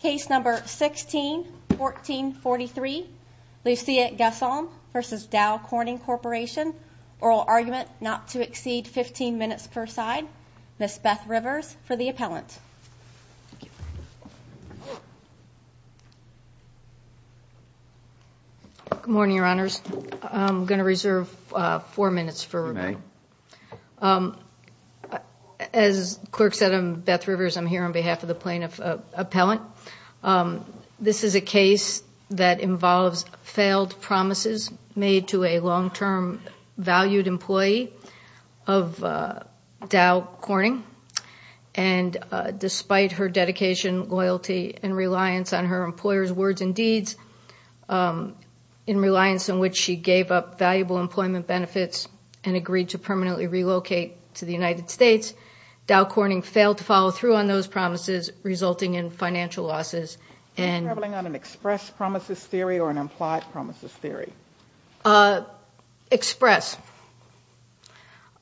Case number 16-1443. Lucia Gason v. Dow Corning Corporation. Oral argument not to exceed 15 minutes per side. Ms. Beth Rivers for the appellant. Good morning, your honors. I'm going to reserve four minutes for review. As clerk said, I'm Beth Rivers. I'm here on behalf of the plaintiff appellant. This is a case that involves failed promises made to a long-term valued employee of Dow Corning. And despite her dedication, loyalty, and reliance on her employer's words and deeds, in reliance on which she gave up valuable employment benefits and agreed to permanently relocate to the United States, Dow Corning failed to follow through on those promises, resulting in financial losses. Are you traveling on an express promises theory or an implied promises theory? Express.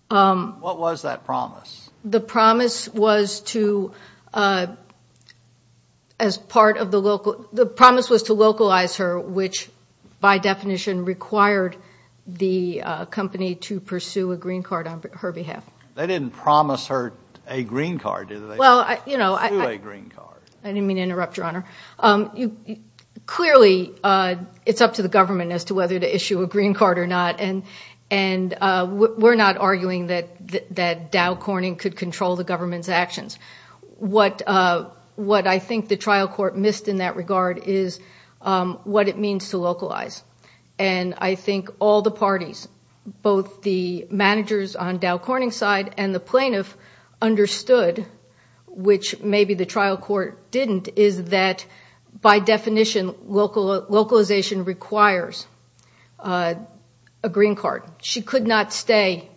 What was that promise? The promise was to, as part of the local, the promise was to localize her, which by definition required the company to pursue a green card on her behalf. They didn't promise her a green card, did they? Well, you know, I didn't mean to interrupt, your honor. Clearly, it's up to the government as to whether to issue a green card or not. And we're not arguing that Dow Corning could control the government's actions. What I think the trial court missed in that regard is what it means to localize. And I think all the parties, both the managers on Dow Corning's side and the plaintiff, understood, which maybe the trial court didn't, is that by definition localization requires a green card. She could not stay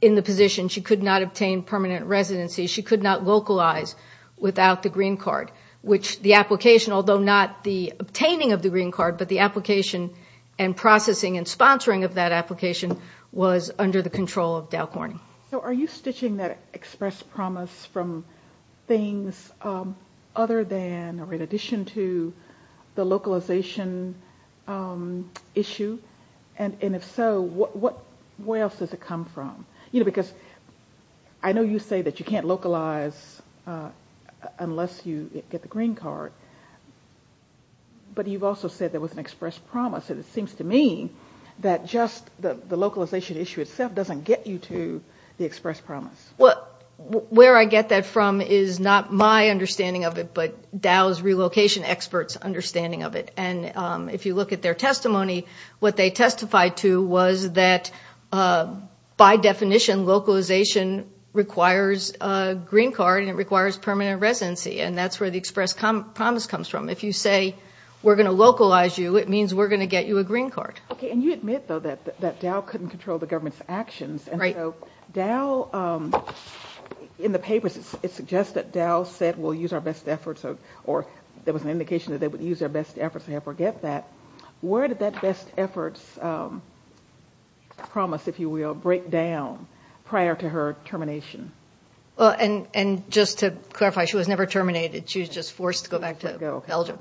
in the position. She could not obtain permanent residency. She could not localize without the green card, which the application, although not the obtaining of the green card, but the application and processing and sponsoring of that application was under the control of Dow Corning. So are you stitching that express promise from things other than or in addition to the localization issue? And if so, where else does it come from? You know, because I know you say that you can't localize unless you get the green card. But you've also said there was an express promise. And it seems to me that just the localization issue itself doesn't get you to the express promise. Well, where I get that from is not my understanding of it, but Dow's relocation experts' understanding of it. And if you look at their testimony, what they testified to was that, by definition, localization requires a green card and it requires permanent residency. And that's where the express promise comes from. If you say we're going to localize you, it means we're going to get you a green card. Okay. And you admit, though, that Dow couldn't control the government's actions. Right. And so Dow, in the papers, it suggests that Dow said we'll use our best efforts, or there was an indication that they would use their best efforts and forget that. Where did that best efforts promise, if you will, break down prior to her termination? And just to clarify, she was never terminated. She was just forced to go back to Belgium.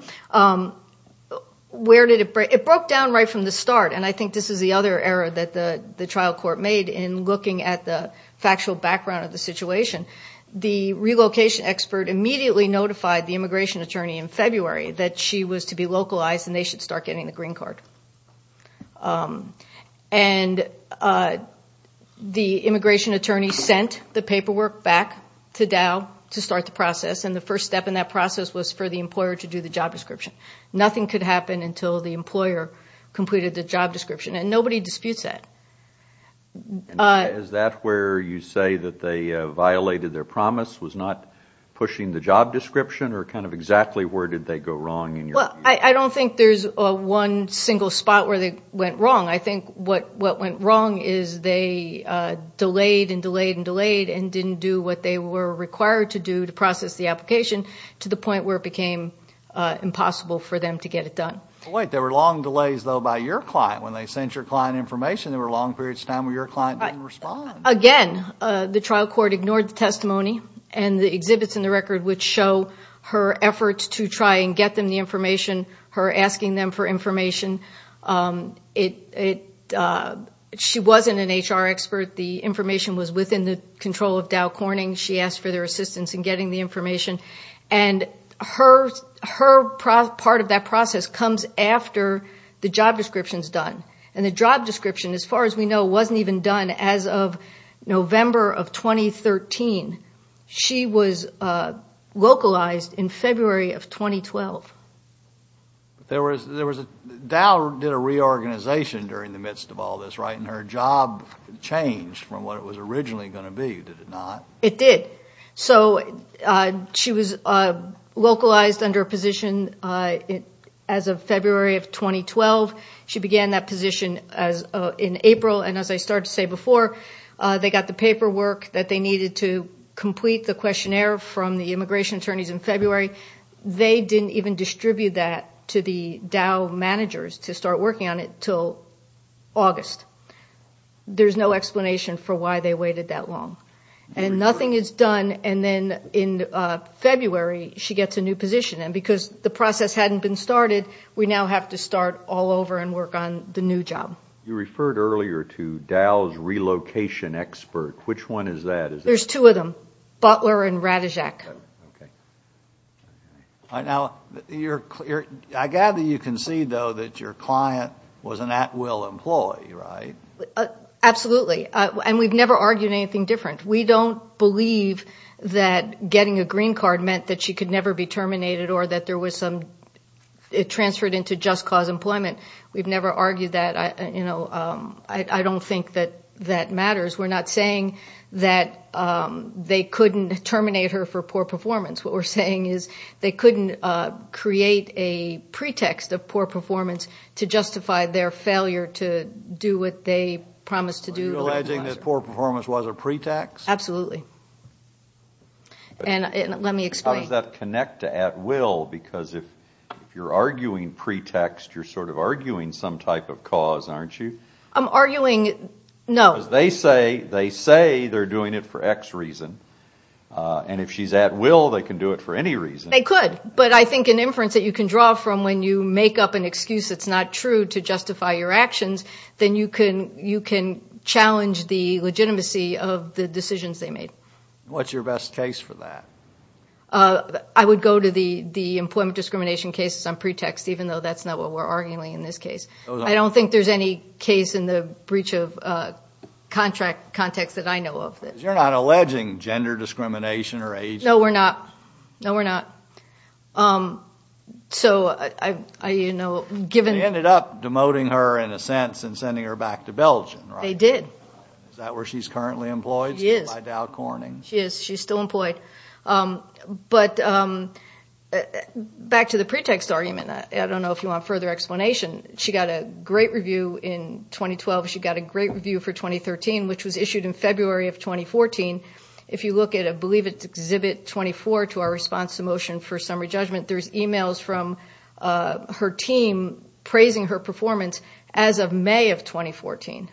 Where did it break? It broke down right from the start, and I think this is the other error that the trial court made in looking at the factual background of the situation. The relocation expert immediately notified the immigration attorney in February that she was to be localized and they should start getting the green card. And the immigration attorney sent the paperwork back to Dow to start the process, and the first step in that process was for the employer to do the job description. Nothing could happen until the employer completed the job description, and nobody disputes that. Is that where you say that they violated their promise, was not pushing the job description, or kind of exactly where did they go wrong in your view? Well, I don't think there's one single spot where they went wrong. I think what went wrong is they delayed and delayed and delayed and didn't do what they were required to do to process the application to the point where it became impossible for them to get it done. There were long delays, though, by your client. When they sent your client information, there were long periods of time where your client didn't respond. Again, the trial court ignored the testimony, and the exhibits in the record would show her efforts to try and get them the information, her asking them for information. She wasn't an HR expert. The information was within the control of Dow Corning. She asked for their assistance in getting the information. And her part of that process comes after the job description is done. And the job description, as far as we know, wasn't even done as of November of 2013. She was localized in February of 2012. Dow did a reorganization during the midst of all this, right, and her job changed from what it was originally going to be, did it not? It did. So she was localized under a position as of February of 2012. She began that position in April, and as I started to say before, they got the paperwork that they needed to complete the questionnaire from the immigration attorneys in February. They didn't even distribute that to the Dow managers to start working on it until August. There's no explanation for why they waited that long. And nothing is done, and then in February, she gets a new position. And because the process hadn't been started, we now have to start all over and work on the new job. You referred earlier to Dow's relocation expert. Which one is that? There's two of them, Butler and Ratajk. Okay. Now, I gather you concede, though, that your client was an at-will employee, right? Absolutely. And we've never argued anything different. We don't believe that getting a green card meant that she could never be terminated or that there was some transferred into just-cause employment. We've never argued that. I don't think that that matters. We're not saying that they couldn't terminate her for poor performance. What we're saying is they couldn't create a pretext of poor performance to justify their failure to do what they promised to do. Are you alleging that poor performance was a pretext? Absolutely. And let me explain. How does that connect to at-will? Because if you're arguing pretext, you're sort of arguing some type of cause, aren't you? I'm arguing no. Because they say they're doing it for X reason. And if she's at-will, they can do it for any reason. They could. But I think an inference that you can draw from when you make up an excuse that's not true to justify your actions, then you can challenge the legitimacy of the decisions they made. What's your best case for that? I would go to the employment discrimination cases on pretext, even though that's not what we're arguing in this case. I don't think there's any case in the breach of contract context that I know of. Because you're not alleging gender discrimination or age discrimination. No, we're not. No, we're not. They ended up demoting her, in a sense, and sending her back to Belgium, right? They did. Is that where she's currently employed? She is. By Dow Corning. She is. She's still employed. But back to the pretext argument. I don't know if you want further explanation. She got a great review in 2012. She got a great review for 2013, which was issued in February of 2014. If you look at, I believe it's Exhibit 24 to our response to motion for summary judgment, there's e-mails from her team praising her performance as of May of 2014.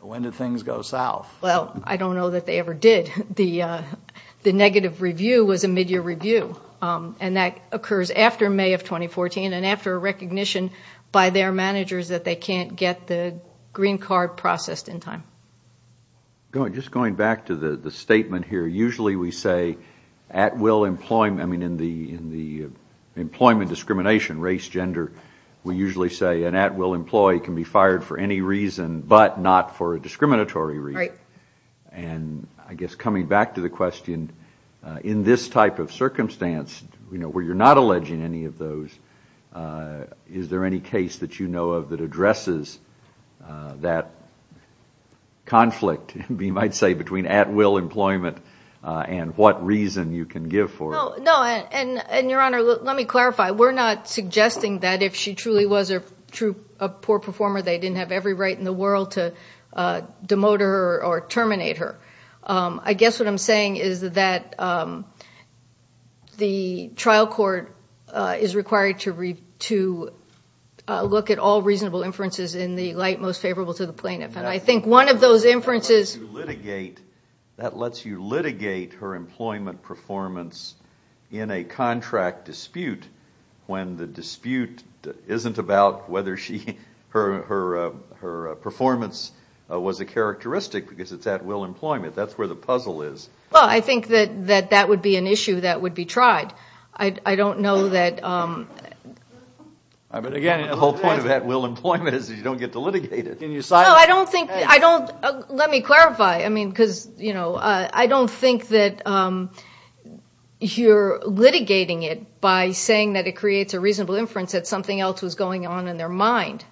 When did things go south? Well, I don't know that they ever did. The negative review was a mid-year review, and that occurs after May of 2014 and after a recognition by their managers that they can't get the green card processed in time. Just going back to the statement here, usually we say, in the employment discrimination, race, gender, we usually say an at-will employee can be fired for any reason but not for a discriminatory reason. And I guess coming back to the question, in this type of circumstance, where you're not alleging any of those, is there any case that you know of that addresses that conflict, you might say, between at-will employment and what reason you can give for it? No. And, Your Honor, let me clarify. We're not suggesting that if she truly was a poor performer, they didn't have every right in the world to demote her or terminate her. I guess what I'm saying is that the trial court is required to look at all reasonable inferences in the light most favorable to the plaintiff. And I think one of those inferences- when the dispute isn't about whether her performance was a characteristic because it's at-will employment, that's where the puzzle is. Well, I think that that would be an issue that would be tried. I don't know that- But, again, the whole point of at-will employment is that you don't get to litigate it. No, I don't think- let me clarify. I mean, because, you know, I don't think that you're litigating it by saying that it creates a reasonable inference that something else was going on in their mind.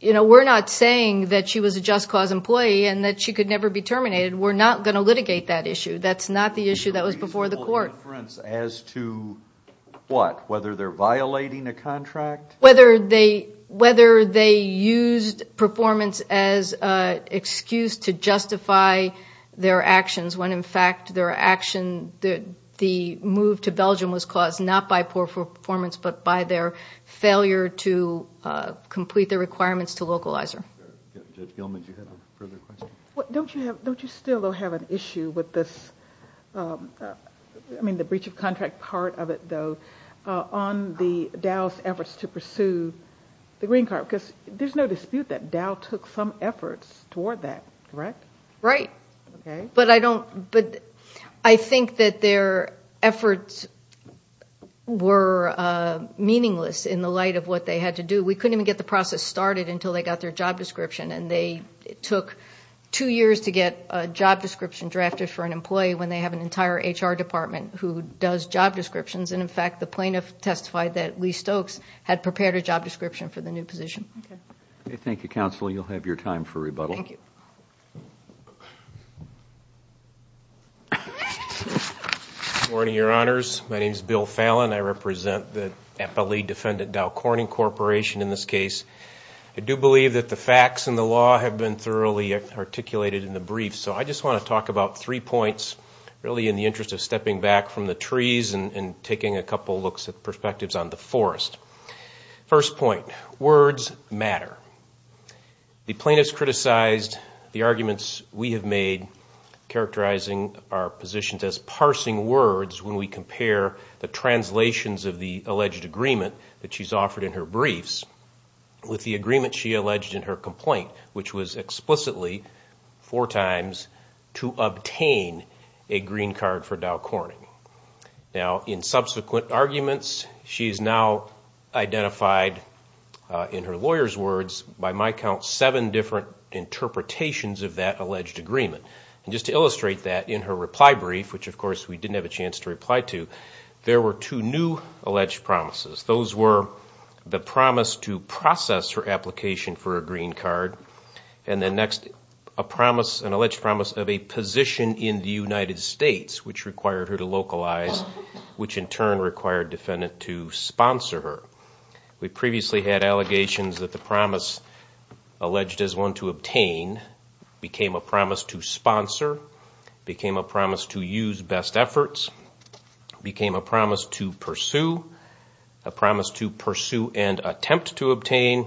You know, we're not saying that she was a just cause employee and that she could never be terminated. We're not going to litigate that issue. That's not the issue that was before the court. A reasonable inference as to what? Whether they're violating a contract? Whether they used performance as an excuse to justify their actions when, in fact, their action- the move to Belgium was caused not by poor performance but by their failure to complete the requirements to localize her. Judge Gilman, did you have a further question? Don't you still, though, have an issue with this- I mean, the breach of contract part of it, though. On the Dow's efforts to pursue the green card, because there's no dispute that Dow took some efforts toward that, correct? Right. Okay. But I think that their efforts were meaningless in the light of what they had to do. We couldn't even get the process started until they got their job description, and it took two years to get a job description drafted for an employee when they have an entire HR department who does job descriptions, and, in fact, the plaintiff testified that Lee Stokes had prepared a job description for the new position. Okay. Thank you, Counsel. You'll have your time for rebuttal. Thank you. Good morning, Your Honors. My name is Bill Fallon. I represent the Eppley Defendant Dow Corning Corporation in this case. I do believe that the facts and the law have been thoroughly articulated in the brief, so I just want to talk about three points, really in the interest of stepping back from the trees and taking a couple looks at perspectives on the forest. First point, words matter. The plaintiff's criticized the arguments we have made, characterizing our positions as parsing words when we compare the translations of the alleged agreement that she's offered in her briefs with the agreement she alleged in her complaint, which was explicitly four times to obtain a green card for Dow Corning. Now, in subsequent arguments, she has now identified, in her lawyer's words, by my count seven different interpretations of that alleged agreement. And just to illustrate that, in her reply brief, which, of course, we didn't have a chance to reply to, there were two new alleged promises. Those were the promise to process her application for a green card, and then next, a promise, an alleged promise of a position in the United States, which required her to localize, which in turn required Defendant to sponsor her. We previously had allegations that the promise alleged as one to obtain became a promise to sponsor, became a promise to use best efforts, became a promise to pursue, a promise to pursue and attempt to obtain,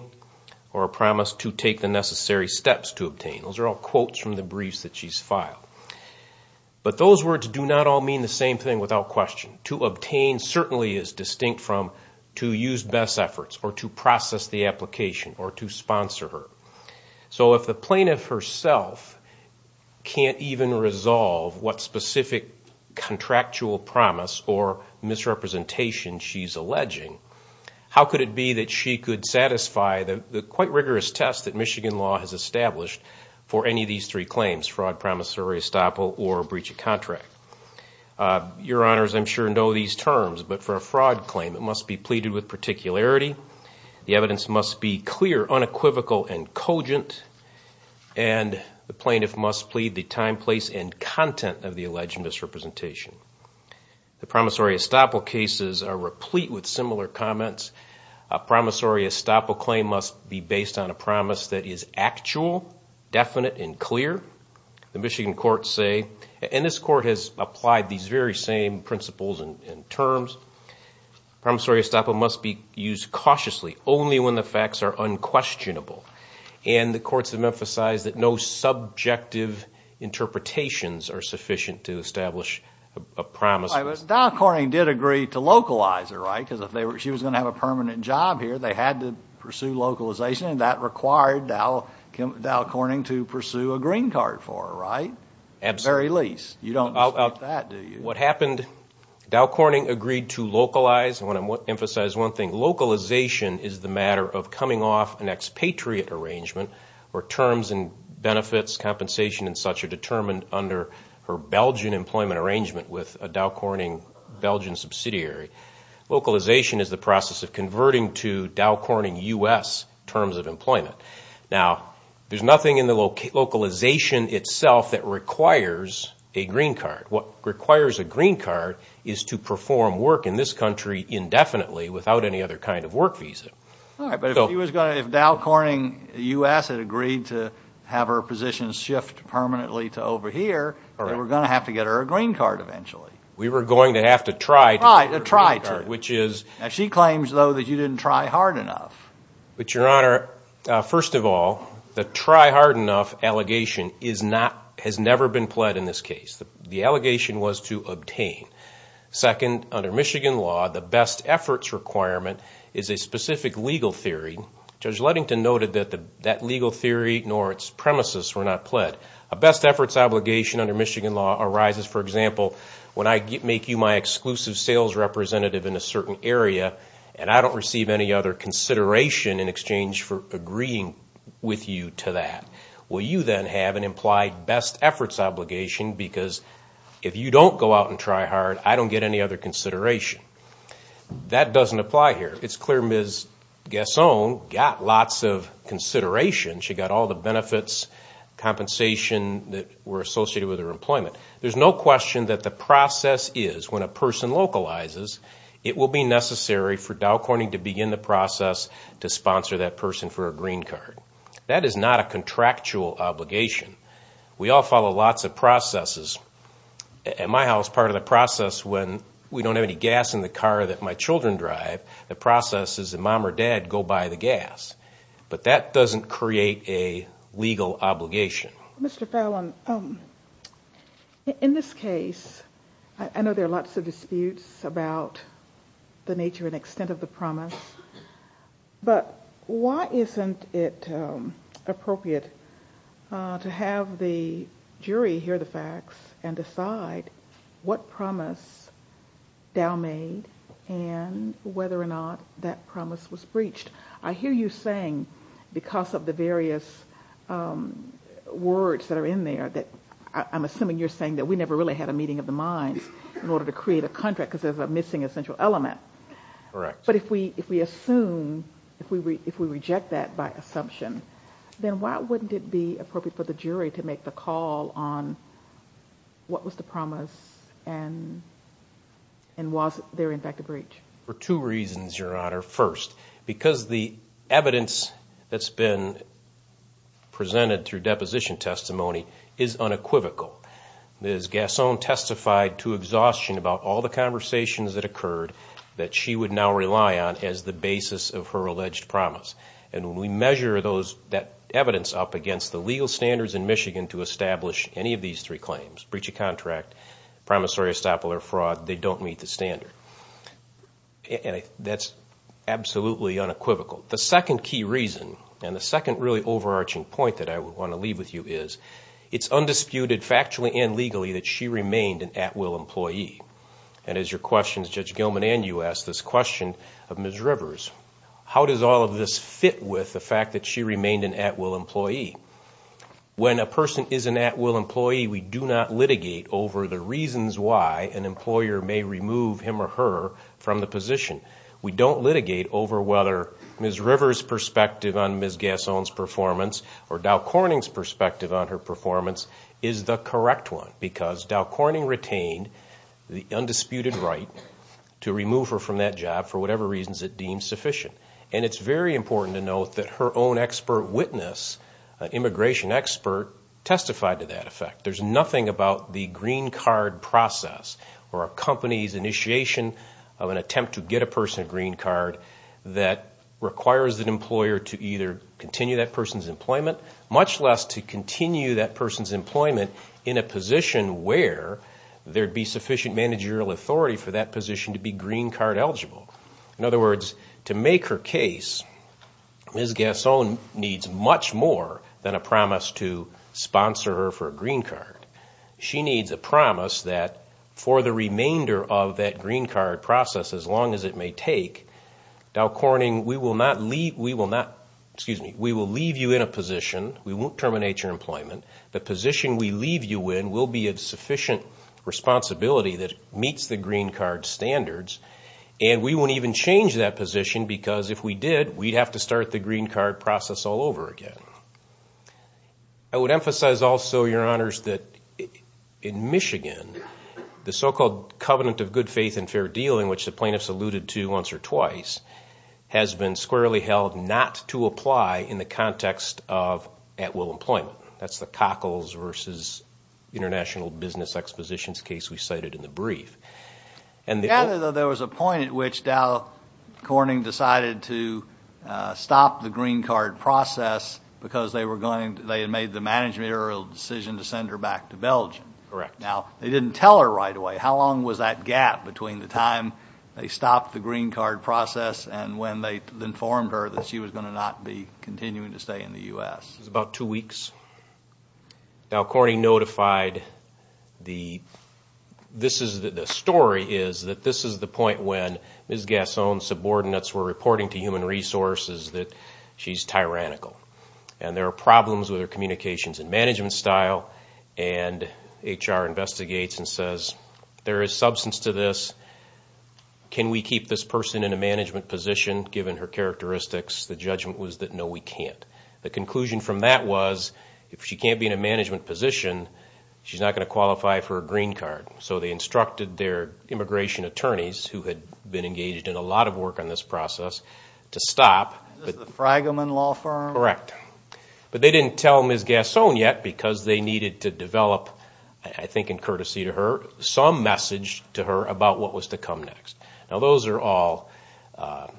or a promise to take the necessary steps to obtain. Those are all quotes from the briefs that she's filed. But those words do not all mean the same thing without question. To obtain certainly is distinct from to use best efforts or to process the application or to sponsor her. So if the plaintiff herself can't even resolve what specific contractual promise or misrepresentation she's alleging, how could it be that she could satisfy the quite rigorous test that Michigan law has established for any of these three claims, fraud, promissory estoppel, or breach of contract? Your Honors, I'm sure know these terms, but for a fraud claim, it must be pleaded with particularity. The evidence must be clear, unequivocal, and cogent. And the plaintiff must plead the time, place, and content of the alleged misrepresentation. The promissory estoppel cases are replete with similar comments. A promissory estoppel claim must be based on a promise that is actual, definite, and clear. The Michigan courts say, and this court has applied these very same principles and terms, promissory estoppel must be used cautiously only when the facts are unquestionable. And the courts have emphasized that no subjective interpretations are sufficient to establish a promise. All right, but Dow Corning did agree to localize her, right? Because if she was going to have a permanent job here, they had to pursue localization, and that required Dow Corning to pursue a green card for her, right? At the very least. You don't dispute that, do you? Okay, what happened? Dow Corning agreed to localize. I want to emphasize one thing. Localization is the matter of coming off an expatriate arrangement where terms and benefits compensation and such are determined under her Belgian employment arrangement with a Dow Corning Belgian subsidiary. Localization is the process of converting to Dow Corning U.S. terms of employment. Now, there's nothing in the localization itself that requires a green card. What requires a green card is to perform work in this country indefinitely without any other kind of work visa. All right, but if Dow Corning U.S. had agreed to have her position shift permanently to over here, they were going to have to get her a green card eventually. We were going to have to try to get her a green card, which is— Now, she claims, though, that you didn't try hard enough. But, Your Honor, first of all, the try hard enough allegation has never been pled in this case. The allegation was to obtain. Second, under Michigan law, the best efforts requirement is a specific legal theory. Judge Ludington noted that that legal theory nor its premises were not pled. A best efforts obligation under Michigan law arises, for example, when I make you my exclusive sales representative in a certain area and I don't receive any other consideration in exchange for agreeing with you to that. Well, you then have an implied best efforts obligation because if you don't go out and try hard, I don't get any other consideration. That doesn't apply here. It's clear Ms. Gasone got lots of consideration. She got all the benefits, compensation that were associated with her employment. There's no question that the process is, when a person localizes, it will be necessary for Dow Corning to begin the process to sponsor that person for a green card. That is not a contractual obligation. We all follow lots of processes. At my house, part of the process when we don't have any gas in the car that my children drive, the process is a mom or dad go buy the gas. But that doesn't create a legal obligation. Mr. Fallon, in this case, I know there are lots of disputes about the nature and extent of the promise, but why isn't it appropriate to have the jury hear the facts and decide what promise Dow made and whether or not that promise was breached? I hear you saying, because of the various words that are in there, that I'm assuming you're saying that we never really had a meeting of the minds in order to create a contract because there's a missing essential element. Correct. But if we assume, if we reject that by assumption, then why wouldn't it be appropriate for the jury to make the call on what was the promise and was there, in fact, a breach? For two reasons, Your Honor. First, because the evidence that's been presented through deposition testimony is unequivocal. Ms. Gasson testified to exhaustion about all the conversations that occurred that she would now rely on as the basis of her alleged promise. And when we measure that evidence up against the legal standards in Michigan to establish any of these three claims, breach of contract, promissory estoppel, or fraud, they don't meet the standard. And that's absolutely unequivocal. The second key reason, and the second really overarching point that I want to leave with you, is it's undisputed factually and legally that she remained an at-will employee. And as your questions, Judge Gilman, and you asked this question of Ms. Rivers, how does all of this fit with the fact that she remained an at-will employee? When a person is an at-will employee, we do not litigate over the reasons why an employer may remove him or her from the position. We don't litigate over whether Ms. Rivers' perspective on Ms. Gasson's performance or Dow Corning's perspective on her performance is the correct one, because Dow Corning retained the undisputed right to remove her from that job for whatever reasons it deemed sufficient. And it's very important to note that her own expert witness, an immigration expert, testified to that effect. There's nothing about the green card process or a company's initiation of an attempt to get a person a green card that requires an employer to either continue that person's employment, much less to continue that person's employment in a position where there'd be sufficient managerial authority for that position to be green card eligible. In other words, to make her case, Ms. Gasson needs much more than a promise to sponsor her for a green card. She needs a promise that for the remainder of that green card process, as long as it may take, Dow Corning, we will leave you in a position. We won't terminate your employment. The position we leave you in will be of sufficient responsibility that meets the green card standards, and we won't even change that position because if we did, we'd have to start the green card process all over again. I would emphasize also, Your Honors, that in Michigan, the so-called covenant of good faith and fair dealing, which the plaintiffs alluded to once or twice, has been squarely held not to apply in the context of at-will employment. That's the Cockles v. International Business Expositions case we cited in the brief. There was a point at which Dow Corning decided to stop the green card process because they had made the managerial decision to send her back to Belgium. Correct. Now, they didn't tell her right away. How long was that gap between the time they stopped the green card process and when they informed her that she was going to not be continuing to stay in the U.S.? It was about two weeks. Dow Corning notified. The story is that this is the point when Ms. Gasson's subordinates were reporting to Human Resources that she's tyrannical, and there are problems with her communications and management style, and HR investigates and says there is substance to this. Can we keep this person in a management position given her characteristics? The judgment was that no, we can't. The conclusion from that was if she can't be in a management position, she's not going to qualify for a green card. So they instructed their immigration attorneys, who had been engaged in a lot of work on this process, to stop. Is this the Fragelman Law Firm? Correct. But they didn't tell Ms. Gasson yet because they needed to develop, I think in courtesy to her, some message to her about what was to come next. Now those are all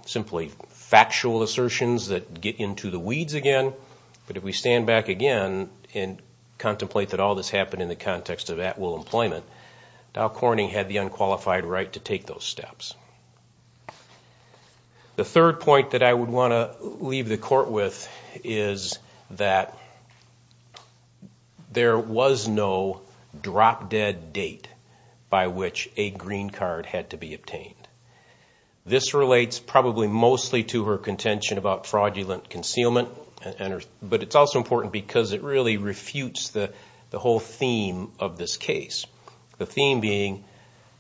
simply factual assertions that get into the weeds again, but if we stand back again and contemplate that all this happened in the context of at-will employment, Dow Corning had the unqualified right to take those steps. The third point that I would want to leave the court with is that there was no drop-dead date by which a green card had to be obtained. This relates probably mostly to her contention about fraudulent concealment, but it's also important because it really refutes the whole theme of this case. The theme being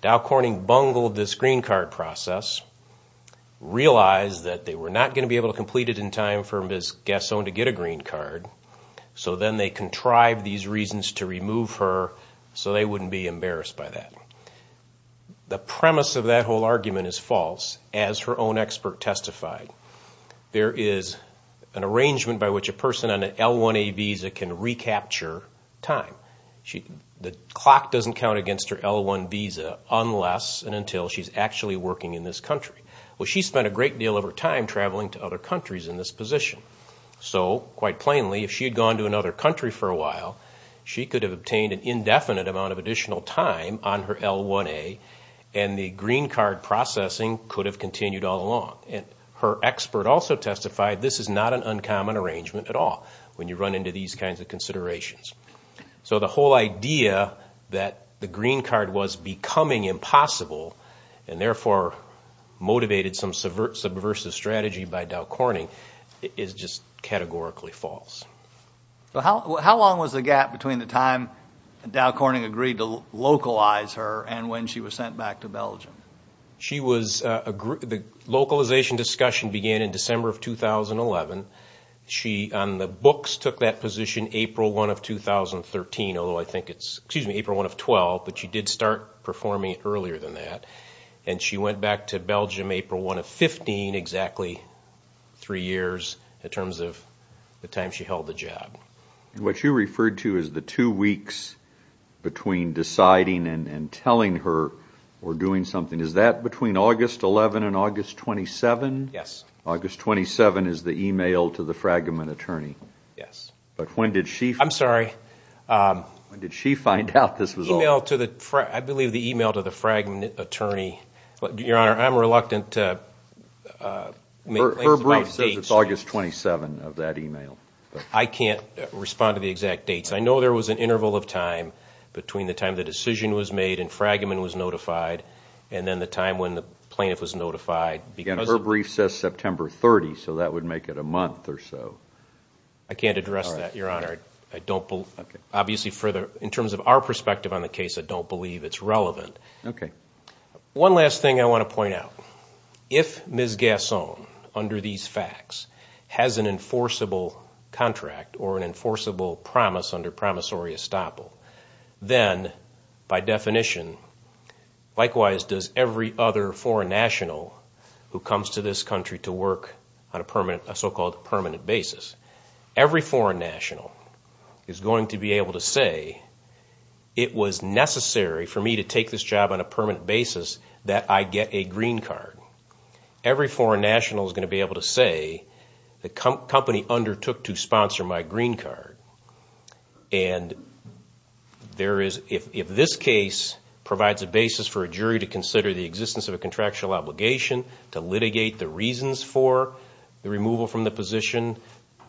Dow Corning bungled this green card process, realized that they were not going to be able to complete it in time for Ms. Gasson to get a green card, so then they contrived these reasons to remove her so they wouldn't be embarrassed by that. The premise of that whole argument is false, as her own expert testified. There is an arrangement by which a person on an L-1A visa can recapture time. The clock doesn't count against her L-1 visa unless and until she's actually working in this country. Well, she spent a great deal of her time traveling to other countries in this position. So, quite plainly, if she had gone to another country for a while, she could have obtained an indefinite amount of additional time on her L-1A, and the green card processing could have continued all along. Her expert also testified this is not an uncommon arrangement at all when you run into these kinds of considerations. So the whole idea that the green card was becoming impossible and therefore motivated some subversive strategy by Dow Corning is just categorically false. How long was the gap between the time Dow Corning agreed to localize her and when she was sent back to Belgium? The localization discussion began in December of 2011. She, on the books, took that position April 1 of 2013, although I think it's April 1 of 2012, but she did start performing earlier than that. She went back to Belgium April 1 of 2015, exactly three years, in terms of the time she held the job. What you referred to as the two weeks between deciding and telling her or doing something, is that between August 11 and August 27? Yes. August 27 is the email to the Fragman attorney. Yes. But when did she find out this was all? I believe the email to the Fragman attorney. Your Honor, I'm reluctant to make claims about dates. Her brief says it's August 27 of that email. I can't respond to the exact dates. I know there was an interval of time between the time the decision was made and Fragman was notified and then the time when the plaintiff was notified. Again, her brief says September 30, so that would make it a month or so. I can't address that, Your Honor. Obviously, in terms of our perspective on the case, I don't believe it's relevant. One last thing I want to point out. If Ms. Gasson, under these facts, has an enforceable contract or an enforceable promise under promissory estoppel, then, by definition, likewise does every other foreign national who comes to this country to work on a so-called permanent basis. Every foreign national is going to be able to say, it was necessary for me to take this job on a permanent basis that I get a green card. Every foreign national is going to be able to say, the company undertook to sponsor my green card and if this case provides a basis for a jury to consider the existence of a contractual obligation, to litigate the reasons for the removal from the position,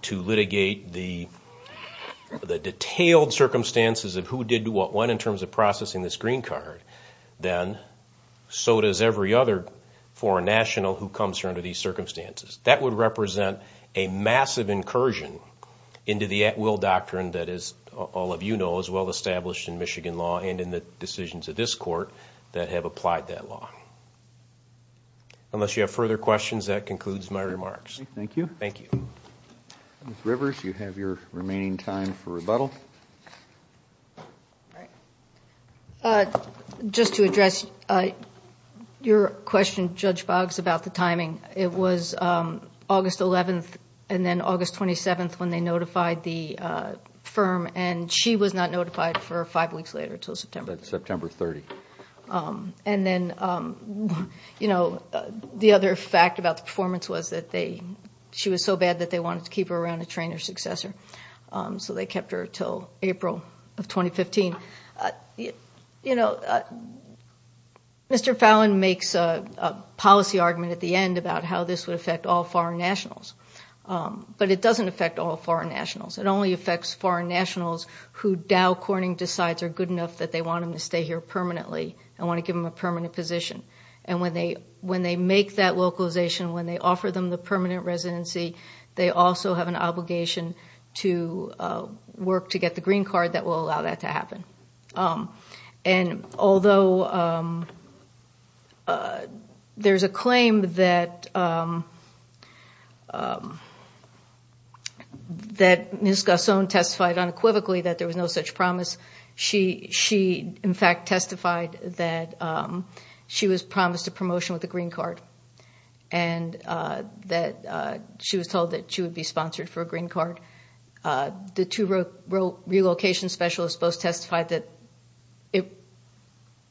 to litigate the detailed circumstances of who did what when, in terms of processing this green card, then so does every other foreign national who comes here under these circumstances. That would represent a massive incursion into the at-will doctrine that, as all of you know, is well established in Michigan law and in the decisions of this court that have applied that law. Unless you have further questions, that concludes my remarks. Thank you. Thank you. Ms. Rivers, you have your remaining time for rebuttal. Just to address your question, Judge Boggs, about the timing. It was August 11th and then August 27th when they notified the firm and she was not notified for five weeks later until September. September 30th. And then the other fact about the performance was that she was so bad that they wanted to keep her around to train her successor, so they kept her until April of 2015. You know, Mr. Fallon makes a policy argument at the end about how this would affect all foreign nationals, but it doesn't affect all foreign nationals. It only affects foreign nationals who Dow Corning decides are good enough that they want them to stay here permanently and want to give them a permanent position. And when they make that localization, when they offer them the permanent residency, they also have an obligation to work to get the green card that will allow that to happen. And although there's a claim that Ms. Gasson testified unequivocally that there was no such promise, she in fact testified that she was promised a promotion with a green card and that she was told that she would be sponsored for a green card. The two relocation specialists both testified that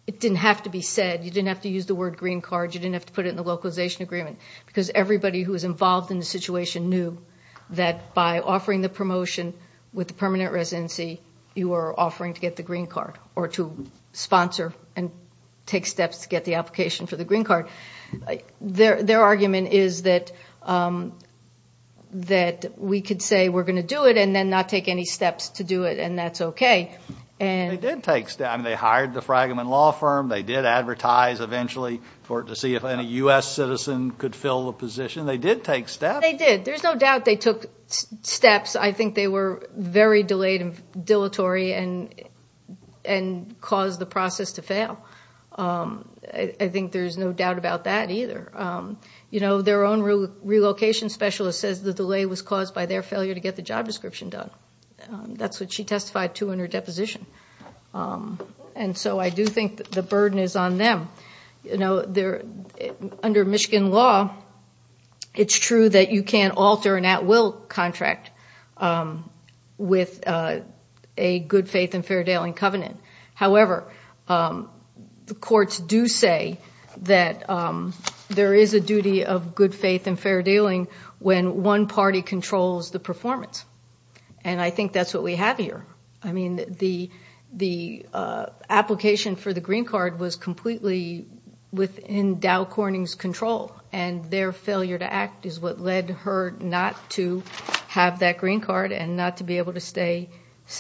it didn't have to be said. You didn't have to use the word green card. You didn't have to put it in the localization agreement because everybody who was involved in the situation knew that by offering the promotion with the permanent residency, you were offering to get the green card or to sponsor and take steps to get the application for the green card. Their argument is that we could say we're going to do it and then not take any steps to do it and that's okay. They did take steps. They hired the Fragment Law Firm. They did advertise eventually to see if any U.S. citizen could fill the position. They did take steps. They did. There's no doubt they took steps. I think they were very dilatory and caused the process to fail. I think there's no doubt about that either. Their own relocation specialist says the delay was caused by their failure to get the job description done. That's what she testified to in her deposition. I do think the burden is on them. Under Michigan law, it's true that you can't alter an at-will contract with a good faith and fair dealing covenant. However, the courts do say that there is a duty of good faith and fair dealing when one party controls the performance. I think that's what we have here. The application for the green card was completely within Dow Corning's control and their failure to act is what led her not to have that green card and not to be able to stay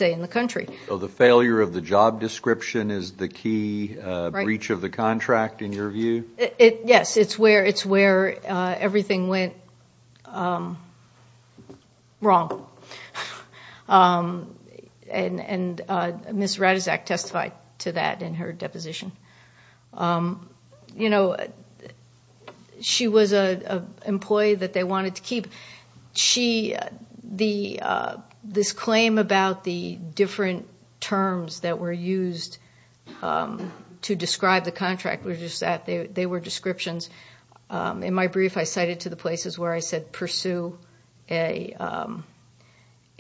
in the country. The failure of the job description is the key breach of the contract in your view? Yes, it's where everything went wrong. Ms. Ratizak testified to that in her deposition. She was an employee that they wanted to keep. This claim about the different terms that were used to describe the contract, they were descriptions. In my brief, I cited to the places where I said pursue a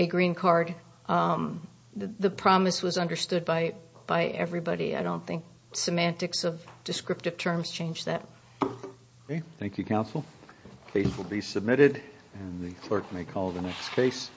green card. The promise was understood by everybody. I don't think semantics of descriptive terms changed that. Thank you, counsel. The case will be submitted and the clerk may call the next case.